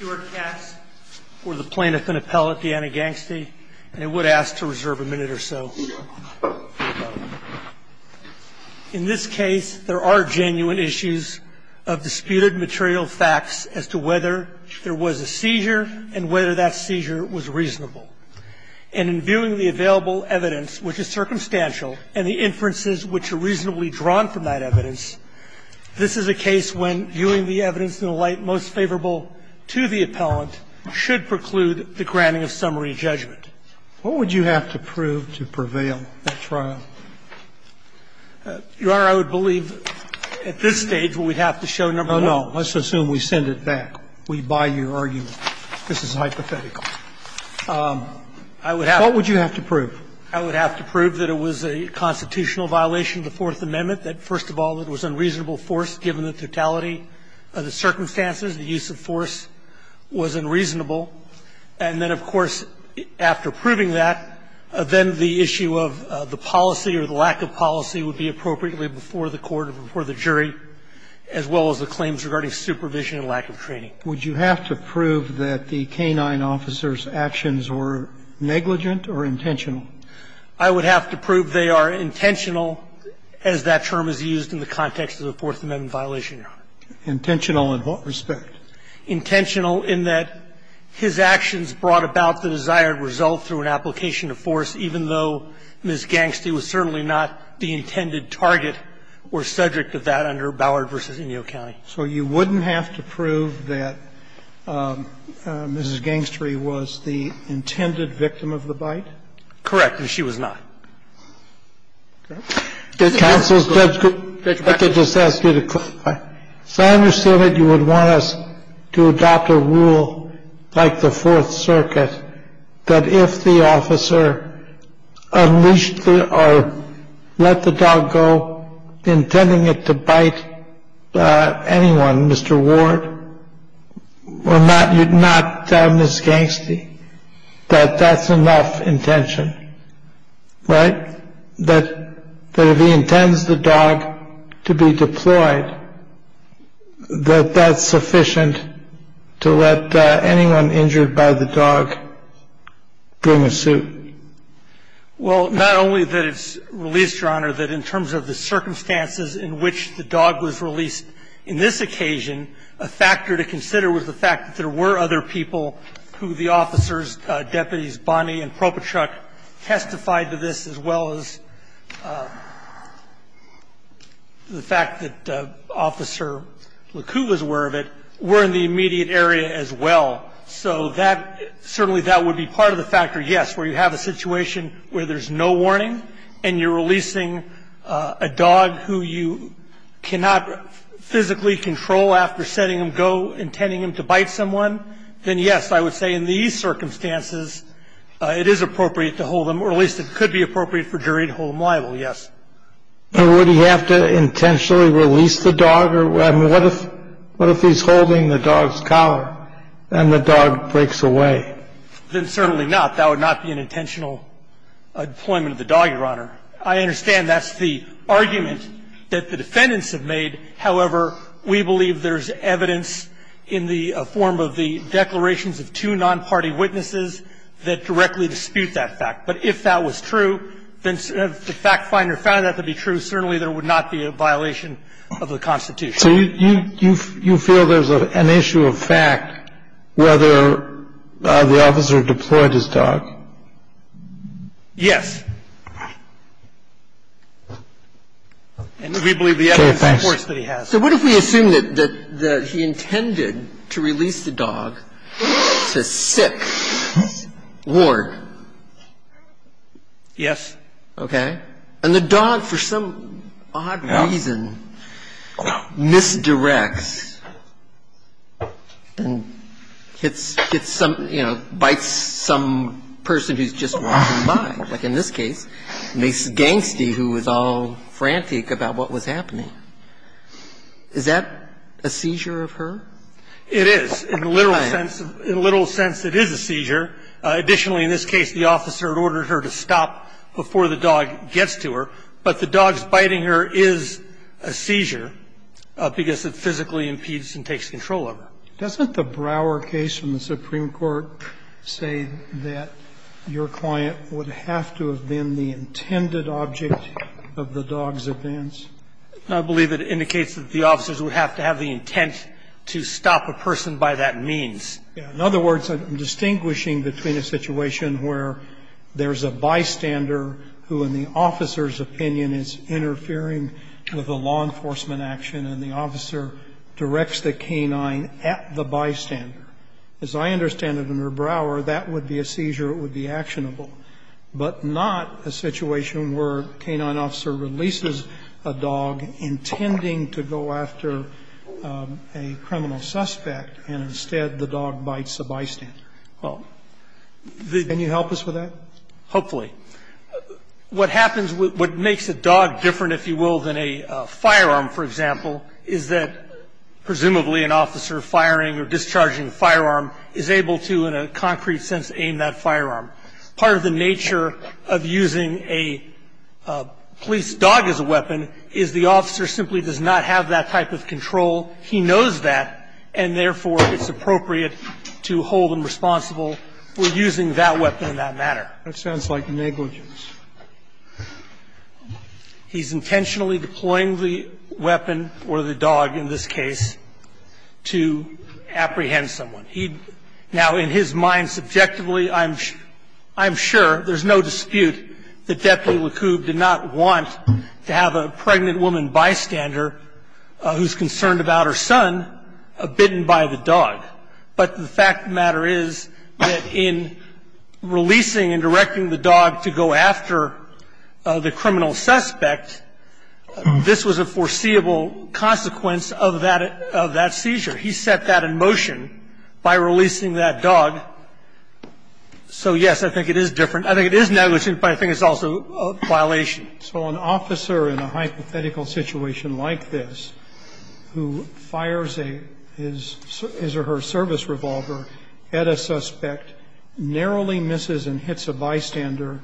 In this case, there are genuine issues of disputed material facts as to whether there was a seizure and whether that seizure was reasonable. And in viewing the available evidence, which is circumstantial, and the inferences which are reasonably drawn from that evidence, this is a case when viewing the evidence in the light most favorable to the appellant should preclude the granting of summary judgment. What would you have to prove to prevail at trial? Your Honor, I would believe at this stage we would have to show number one. No, no. Let's assume we send it back. We buy your argument. This is hypothetical. I would have to prove that it was a constitutional violation of the Fourth Amendment, that, first of all, it was unreasonable force, given the totality of the circumstances. The use of force was unreasonable. And then, of course, after proving that, then the issue of the policy or the lack of policy would be appropriately before the court or before the jury, as well as the claims regarding supervision and lack of training. Would you have to prove that the canine officer's actions were negligent or intentional? I would have to prove they are intentional, as that term is used in the context of the Fourth Amendment violation, Your Honor. Intentional in what respect? Intentional in that his actions brought about the desired result through an application of force, even though Ms. Gangster was certainly not the intended target or subject of that under Bower v. O'Neill County. So you wouldn't have to prove that Mrs. Gangster was the intended victim of the bite? Correct, if she was not. Judge Breyer. I could just ask you to clarify. So I understand that you would want us to adopt a rule like the Fourth Circuit that if the officer unleashed or let the dog go, intending it to bite anyone, Mr. Gangster, that that's enough intention, right? That if he intends the dog to be deployed, that that's sufficient to let anyone injured by the dog bring a suit? Well, not only that it's released, Your Honor, that in terms of the circumstances in which the dog was released in this occasion, a factor to consider was the fact that there were other people who the officers, deputies Bonney and Propachuk, testified to this, as well as the fact that Officer Lacoob was aware of it, were in the immediate area as well. So that, certainly that would be part of the factor, yes, where you have a situation where there's no warning and you're releasing a dog who you cannot physically control after setting him go, intending him to bite someone, and you're holding him, then, yes, I would say in these circumstances, it is appropriate to hold him, or at least it could be appropriate for jury to hold him liable, yes. But would he have to intentionally release the dog? I mean, what if he's holding the dog's collar and the dog breaks away? Then certainly not. That would not be an intentional deployment of the dog, Your Honor. I understand that's the argument that the defendants have made. However, we believe there's evidence in the form of the declarations of two non-party witnesses that directly dispute that fact. But if that was true, then if the fact finder found that to be true, certainly there would not be a violation of the Constitution. So you feel there's an issue of fact whether the officer deployed his dog? Yes. And we believe the evidence supports that he has. So what if we assume that he intended to release the dog to sick Ward? Yes. Okay. And the dog, for some odd reason, misdirects and hits some, you know, bites some person who's just walking by, like in this case, a gangster who was all frantic about what was happening. Is that a seizure of her? It is. In the literal sense, in the literal sense, it is a seizure. Additionally, in this case, the officer had ordered her to stop before the dog gets to her, but the dog's biting her is a seizure because it physically impedes and takes control of her. Doesn't the Brower case from the Supreme Court say that your client would have to have been the intended object of the dog's advance? I believe it indicates that the officers would have to have the intent to stop a person by that means. In other words, I'm distinguishing between a situation where there's a bystander who, in the officer's opinion, is interfering with a law enforcement action and the bystander, as I understand it under Brower, that would be a seizure, it would be actionable, but not a situation where a K-9 officer releases a dog intending to go after a criminal suspect, and instead the dog bites the bystander. Well, can you help us with that? Hopefully. What happens, what makes a dog different, if you will, than a firearm, for example, is that presumably an officer firing or discharging a firearm is able to, in a concrete sense, aim that firearm. Part of the nature of using a police dog as a weapon is the officer simply does not have that type of control. He knows that, and therefore it's appropriate to hold him responsible for using that weapon in that manner. That sounds like negligence. He's intentionally deploying the weapon or the dog in this case to apprehend someone. He now, in his mind subjectively, I'm sure, there's no dispute that Deputy LeCoub did not want to have a pregnant woman bystander who's concerned about her son bitten by the dog. But the fact of the matter is that in releasing and directing the dog to go after the criminal suspect, this was a foreseeable consequence of that seizure. He set that in motion by releasing that dog. So, yes, I think it is different. I think it is negligence, but I think it's also a violation. So an officer in a hypothetical situation like this who fires a his or her service revolver at a suspect, narrowly misses and hits a bystander,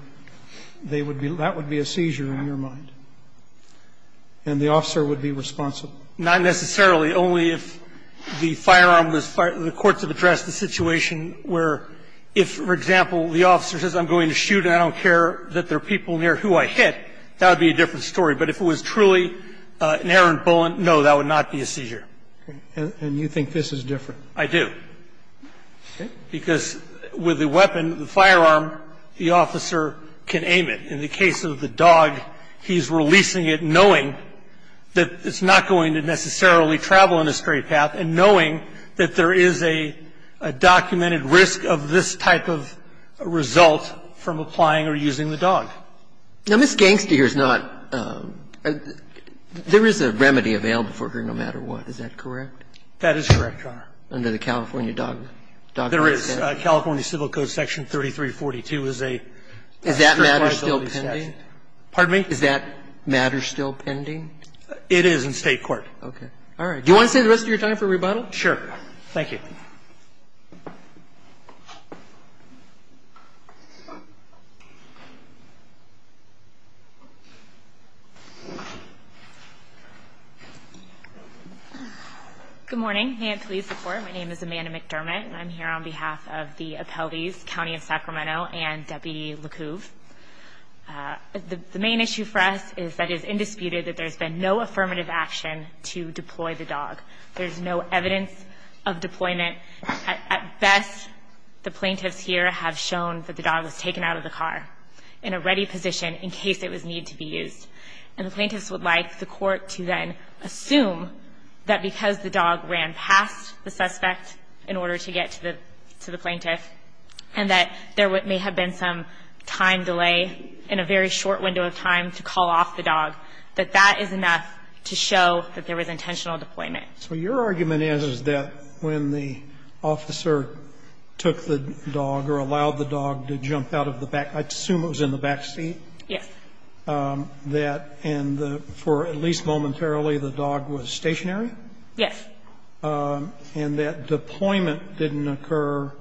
they would be that would be a seizure in your mind, and the officer would be responsible? Not necessarily, only if the firearm was fired or the courts have addressed the situation where if, for example, the officer says I'm going to shoot and I don't care that there are people near who I hit, that would be a different story. But if it was truly an errant bullet, no, that would not be a seizure. And you think this is different? I do. Because with the weapon, the firearm, the officer can aim it. In the case of the dog, he's releasing it knowing that it's not going to necessarily travel in a straight path and knowing that there is a documented risk of this type of result from applying or using the dog. Now, Ms. Gangster here is not – there is a remedy available for her no matter what, is that correct? That is correct, Your Honor. Under the California Dog – Dog Clause? There is. California Civil Code Section 3342 is a strict liability statute. Is that matter still pending? Pardon me? Is that matter still pending? It is in State court. Okay. All right. Do you want to stay the rest of your time for rebuttal? Sure. Thank you. Ms. McDermott. Good morning. And please report. My name is Amanda McDermott, and I'm here on behalf of the appellees, County of Sacramento and Deputy LeCouvre. The main issue for us is that it is indisputed that there's been no affirmative action to deploy the dog. There's no evidence of deployment. At best, the plaintiffs here have shown that the dog was taken out of the car in a ready position in case it was needed to be used. And the plaintiffs would like the court to then assume that because the dog ran past the suspect in order to get to the – to the plaintiff, and that there may have been some time delay in a very short window of time to call off the dog, that that is enough to show that there was intentional deployment. So your argument is, is that when the officer took the dog or allowed the dog to jump out of the back – I'd assume it was in the back seat? Yes. That – and for at least momentarily the dog was stationary? Yes. And that deployment didn't occur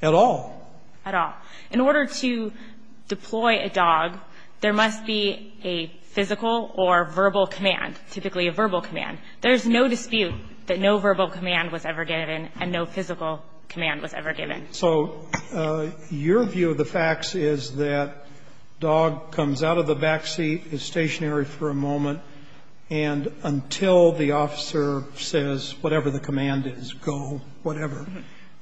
at all? At all. In order to deploy a dog, there must be a physical or verbal command, typically a verbal command. There's no dispute that no verbal command was ever given and no physical command was ever given. So your view of the facts is that dog comes out of the back seat, is stationary for a moment, and until the officer says whatever the command is, go, whatever,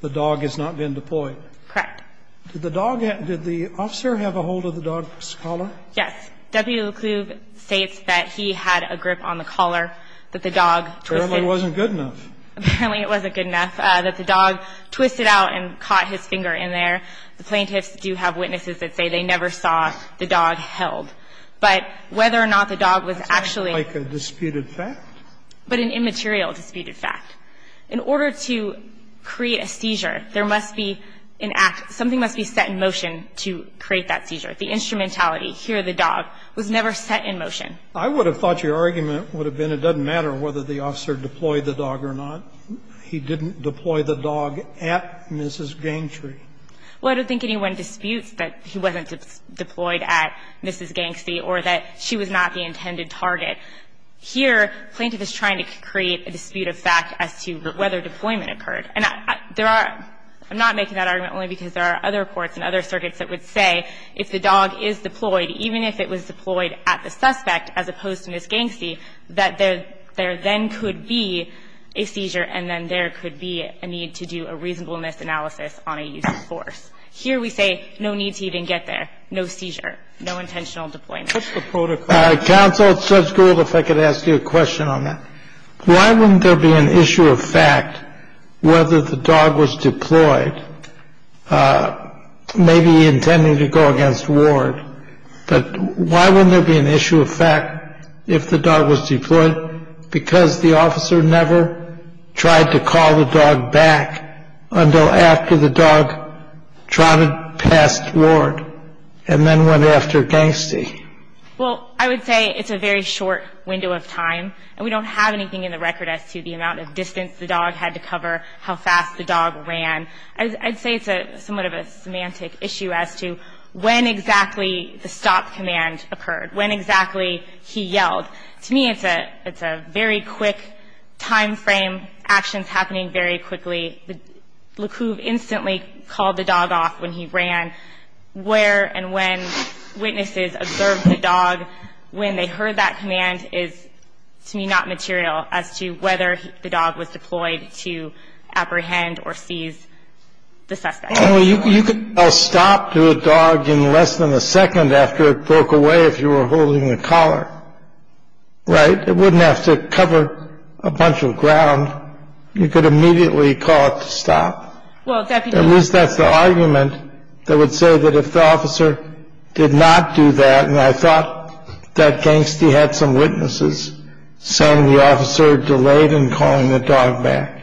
the dog has not been deployed? Correct. Did the dog – did the officer have a hold of the dog's collar? Yes. W. LeClube states that he had a grip on the collar, that the dog twisted. Apparently it wasn't good enough. Apparently it wasn't good enough, that the dog twisted out and caught his finger in there. The plaintiffs do have witnesses that say they never saw the dog held. But whether or not the dog was actually – That sounds like a disputed fact. But an immaterial disputed fact. In order to create a seizure, there must be an act – something must be set in motion to create that seizure. The instrumentality, here the dog, was never set in motion. I would have thought your argument would have been it doesn't matter whether the officer deployed the dog or not. He didn't deploy the dog at Mrs. Gangtry. Well, I don't think anyone disputes that he wasn't deployed at Mrs. Gangtry or that she was not the intended target. Here, plaintiff is trying to create a disputed fact as to whether deployment occurred. And there are – I'm not making that argument only because there are other courts and other circuits that would say if the dog is deployed, even if it was deployed at the suspect as opposed to Mrs. Gangtry, that there then could be a seizure and then there could be a need to do a reasonableness analysis on a use of force. Here we say no need to even get there, no seizure, no intentional deployment. What's the protocol? Counsel, it's sub-schooled if I could ask you a question on that. Why wouldn't there be an issue of fact whether the dog was deployed, maybe he intended to go against Ward? But why wouldn't there be an issue of fact if the dog was deployed? Because the officer never tried to call the dog back until after the dog trotted past Ward and then went after Gangtry. Well, I would say it's a very short window of time and we don't have anything in the record as to the amount of distance the dog had to cover, how fast the dog ran. I'd say it's somewhat of a semantic issue as to when exactly the stop command occurred, when exactly he yelled. To me, it's a very quick timeframe, actions happening very quickly. LeCouvre instantly called the dog off when he ran, where and when witnesses observed the dog, when they heard that command is, to me, not material as to whether the dog was deployed to apprehend or seize the suspect. Well, you could tell stop to a dog in less than a second after it broke away if you were holding a collar, right? It wouldn't have to cover a bunch of ground. You could immediately call it to stop. Well, at least that's the argument that would say that if the officer did not do that, and I thought that Gangtry had some witnesses saying the officer delayed in calling the dog back,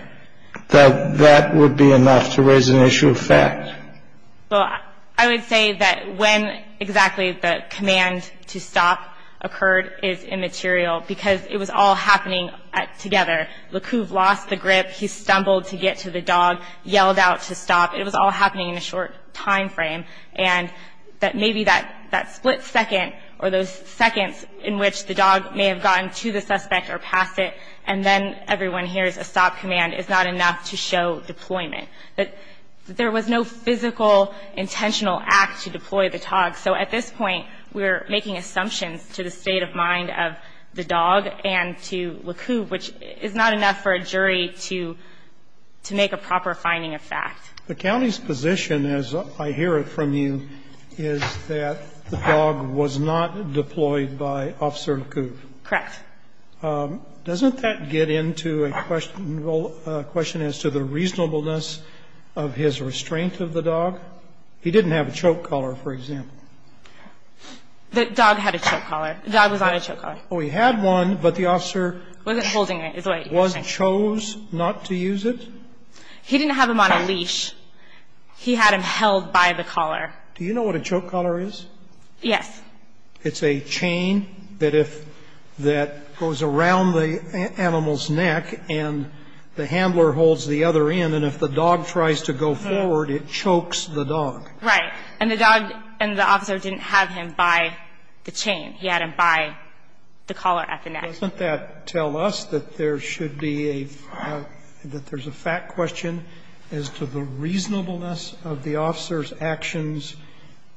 that that would be enough to raise an issue of fact. Well, I would say that when exactly the command to stop occurred is immaterial because it was all happening together. LeCouvre lost the grip. He stumbled to get to the dog, yelled out to stop. It was all happening in a short timeframe, and that maybe that split second or those seconds in which the dog may have gotten to the suspect or passed it, and then everyone hears a stop command is not enough to show deployment. That there was no physical, intentional act to deploy the dog. So at this point, we're making assumptions to the state of mind of the dog and to LeCouvre, which is not enough for a jury to make a proper finding of fact. The county's position, as I hear it from you, is that the dog was not deployed by Officer LeCouvre. Correct. Doesn't that get into a question as to the reasonableness of his restraint of the dog? He didn't have a choke collar, for example. The dog had a choke collar. The dog was on a choke collar. He had one, but the officer- Wasn't holding it. Wasn't, chose not to use it? He didn't have him on a leash. He had him held by the collar. Do you know what a choke collar is? Yes. It's a chain that goes around the animal's neck, and the handler holds the other end, and if the dog tries to go forward, it chokes the dog. Right, and the dog and the officer didn't have him by the chain. He had him by the collar at the neck. Doesn't that tell us that there should be a, that there's a fact question as to the reasonableness of the officer's actions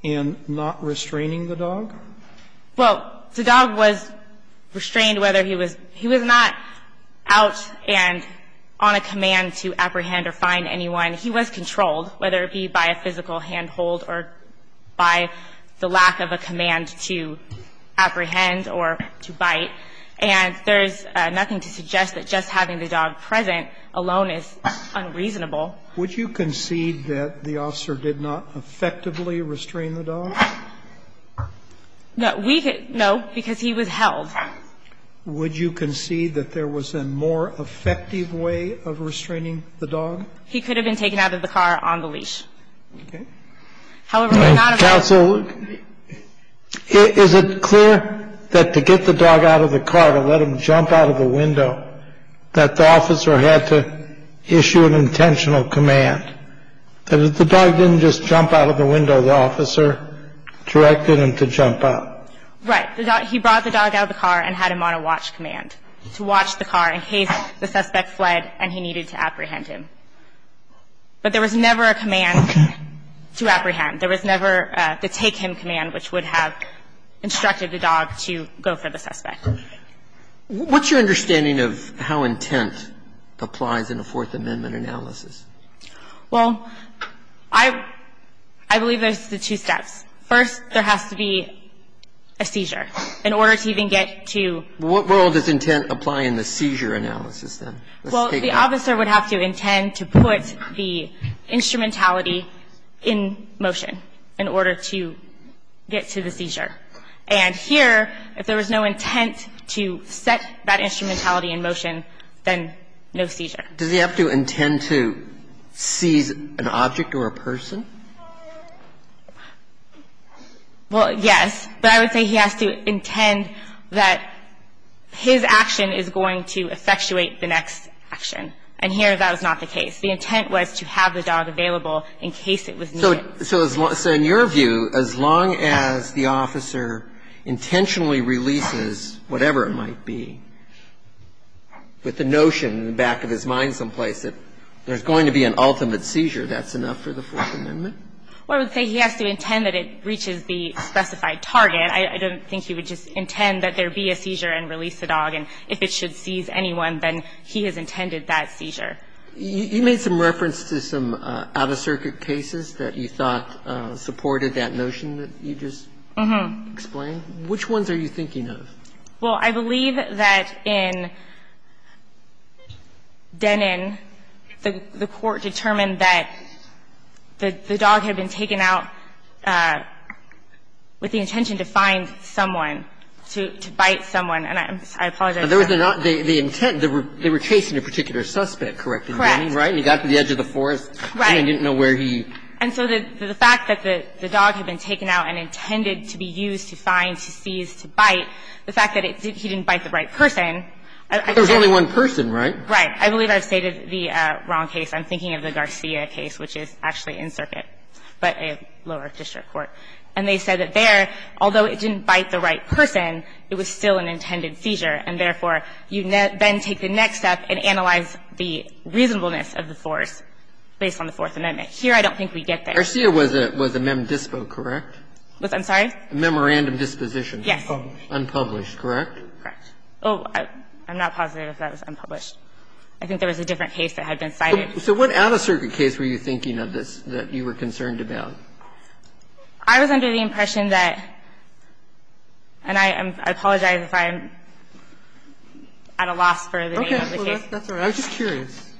in not restraining the dog? Well, the dog was restrained whether he was, he was not out and on a command to apprehend or find anyone. He was controlled, whether it be by a physical handhold or by the lack of a command to apprehend or to bite. And there's nothing to suggest that just having the dog present alone is unreasonable. Would you concede that the officer did not effectively restrain the dog? No, we could, no, because he was held. Would you concede that there was a more effective way of restraining the dog? He could have been taken out of the car on the leash. Okay. However, we're not- Counsel, is it clear that to get the dog out of the car, to let him jump out of the window, that the officer had to issue an intentional command? That if the dog didn't just jump out of the window, the officer directed him to jump out. Right, he brought the dog out of the car and had him on a watch command, to watch the car in case the suspect fled and he needed to apprehend him. But there was never a command to apprehend. There was never the take him command, which would have instructed the dog to go for the suspect. What's your understanding of how intent applies in a Fourth Amendment analysis? Well, I believe there's the two steps. First, there has to be a seizure in order to even get to- What role does intent apply in the seizure analysis, then? Well, the officer would have to intend to put the instrumentality in motion in order to get to the seizure. And here, if there was no intent to set that instrumentality in motion, then no seizure. Does he have to intend to seize an object or a person? Well, yes, but I would say he has to intend that his action is going to effectuate the next action. And here, that was not the case. The intent was to have the dog available in case it was needed. So in your view, as long as the officer intentionally releases whatever it might be, with the notion in the back of his mind someplace that there's going to be an ultimate seizure, that's enough for the Fourth Amendment? Well, I would say he has to intend that it reaches the specified target. I don't think he would just intend that there be a seizure and release the dog. And if it should seize anyone, then he has intended that seizure. You made some reference to some out-of-circuit cases that you thought supported that notion that you just explained. Which ones are you thinking of? Well, I believe that in Denon, the Court determined that the dog had been taken out with the intention to find someone, to bite someone. And I apologize for that. But there was not the intent. They were chasing a particular suspect, correct, in Denon, right? Correct. And he got to the edge of the forest. Right. And they didn't know where he was. And so the fact that the dog had been taken out and intended to be used to find, to seize, to bite, the fact that he didn't bite the right person, I can't say. There was only one person, right? Right. I believe I've stated the wrong case. I'm thinking of the Garcia case, which is actually in circuit, but a lower district court. And they said that there, although it didn't bite the right person, it was still an intended seizure. And therefore, you then take the next step and analyze the reasonableness of the force based on the Fourth Amendment. Here, I don't think we get there. Garcia was a mem dispo, correct? I'm sorry? Memorandum disposition. Yes. Unpublished, correct? Correct. Oh, I'm not positive if that was unpublished. I think there was a different case that had been cited. So what out-of-circuit case were you thinking of this, that you were concerned about? I was under the impression that, and I apologize if I'm at a loss for the name of the case. Okay. That's all right. I was just curious.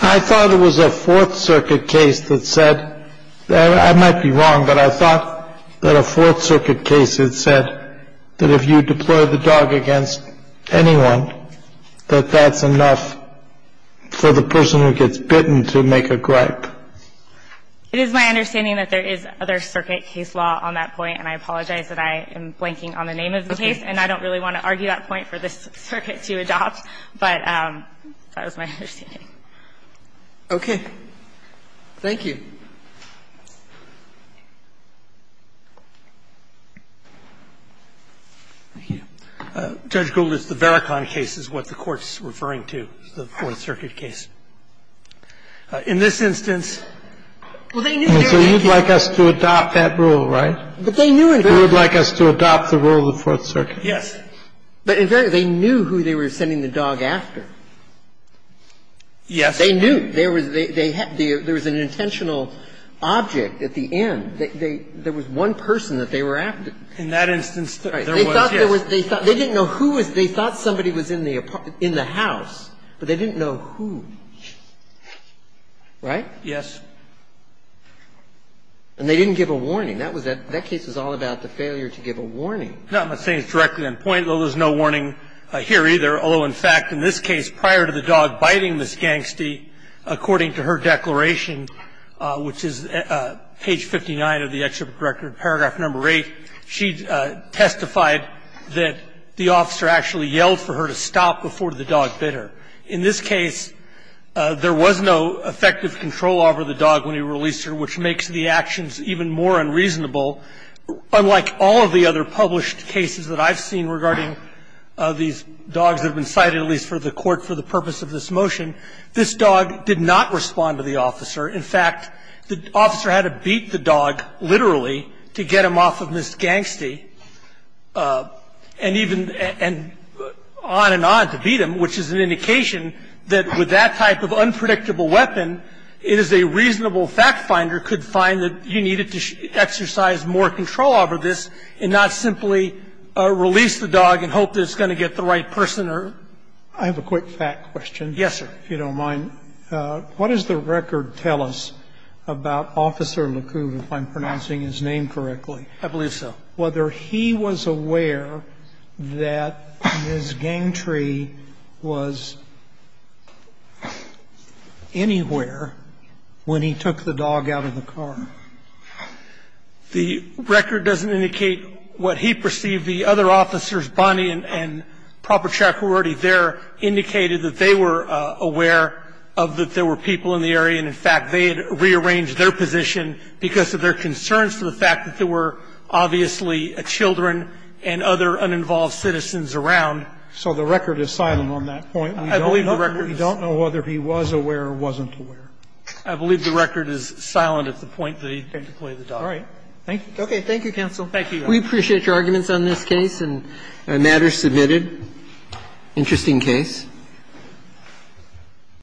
I thought it was a Fourth Circuit case that said, I might be wrong, but I thought that a Fourth Circuit case had said that if you deploy the dog against anyone, that that's enough for the person who gets bitten to make a gripe. It is my understanding that there is other circuit case law on that point, and I apologize that I am blanking on the name of the case. Okay. And I don't really want to argue that point for this circuit to adopt, but that was my understanding. Okay. Thank you. Thank you. Judge Gould, it's the Vericon case is what the Court's referring to, the Fourth Circuit case. In this instance, well, they knew they were going to get bitten. So you'd like us to adopt that rule, right? But they knew in Vericon. You would like us to adopt the rule of the Fourth Circuit. Yes. But in Vericon, they knew who they were sending the dog after. Yes. They knew. There was an intentional object at the end. There was one person that they were after. In that instance, there was, yes. They didn't know who was they thought somebody was in the house, but they didn't know who. Right? Yes. And they didn't give a warning. That case was all about the failure to give a warning. No, I'm not saying it's directly on point. There was no warning here either, although, in fact, in this case, prior to the dog biting this gangster, according to her declaration, which is page 59 of the Exhibit Record, paragraph number 8, she testified that the officer actually yelled for her to stop before the dog bit her. In this case, there was no effective control over the dog when he released her, which makes the actions even more unreasonable. Unlike all of the other published cases that I've seen regarding these dogs that have been cited, at least for the court, for the purpose of this motion, this dog did not respond to the officer. In fact, the officer had to beat the dog, literally, to get him off of Ms. Gangstey and even on and on to beat him, which is an indication that with that type of unpredictable weapon, it is a reasonable fact finder could find that you needed to exercise more control over this and not simply release the dog and hope that it's going to get the right person or. I have a quick fact question. Yes, sir. If you don't mind. What does the record tell us about Officer LeCoup, if I'm pronouncing his name correctly? I believe so. Whether he was aware that Ms. Gangstey was anywhere when he took the dog out of the car. The record doesn't indicate what he perceived. The other officers, Bonnie and Proper Track, who were already there, indicated that they were aware of that there were people in the area and, in fact, they had rearranged their position because of their concerns to the fact that there were obviously children and other uninvolved citizens around. So the record is silent on that point. I believe the record is. We don't know whether he was aware or wasn't aware. I believe the record is silent at the point that he took away the dog. All right. Thank you. Okay. Thank you, counsel. Thank you. We appreciate your arguments on this case and matters submitted. Interesting case.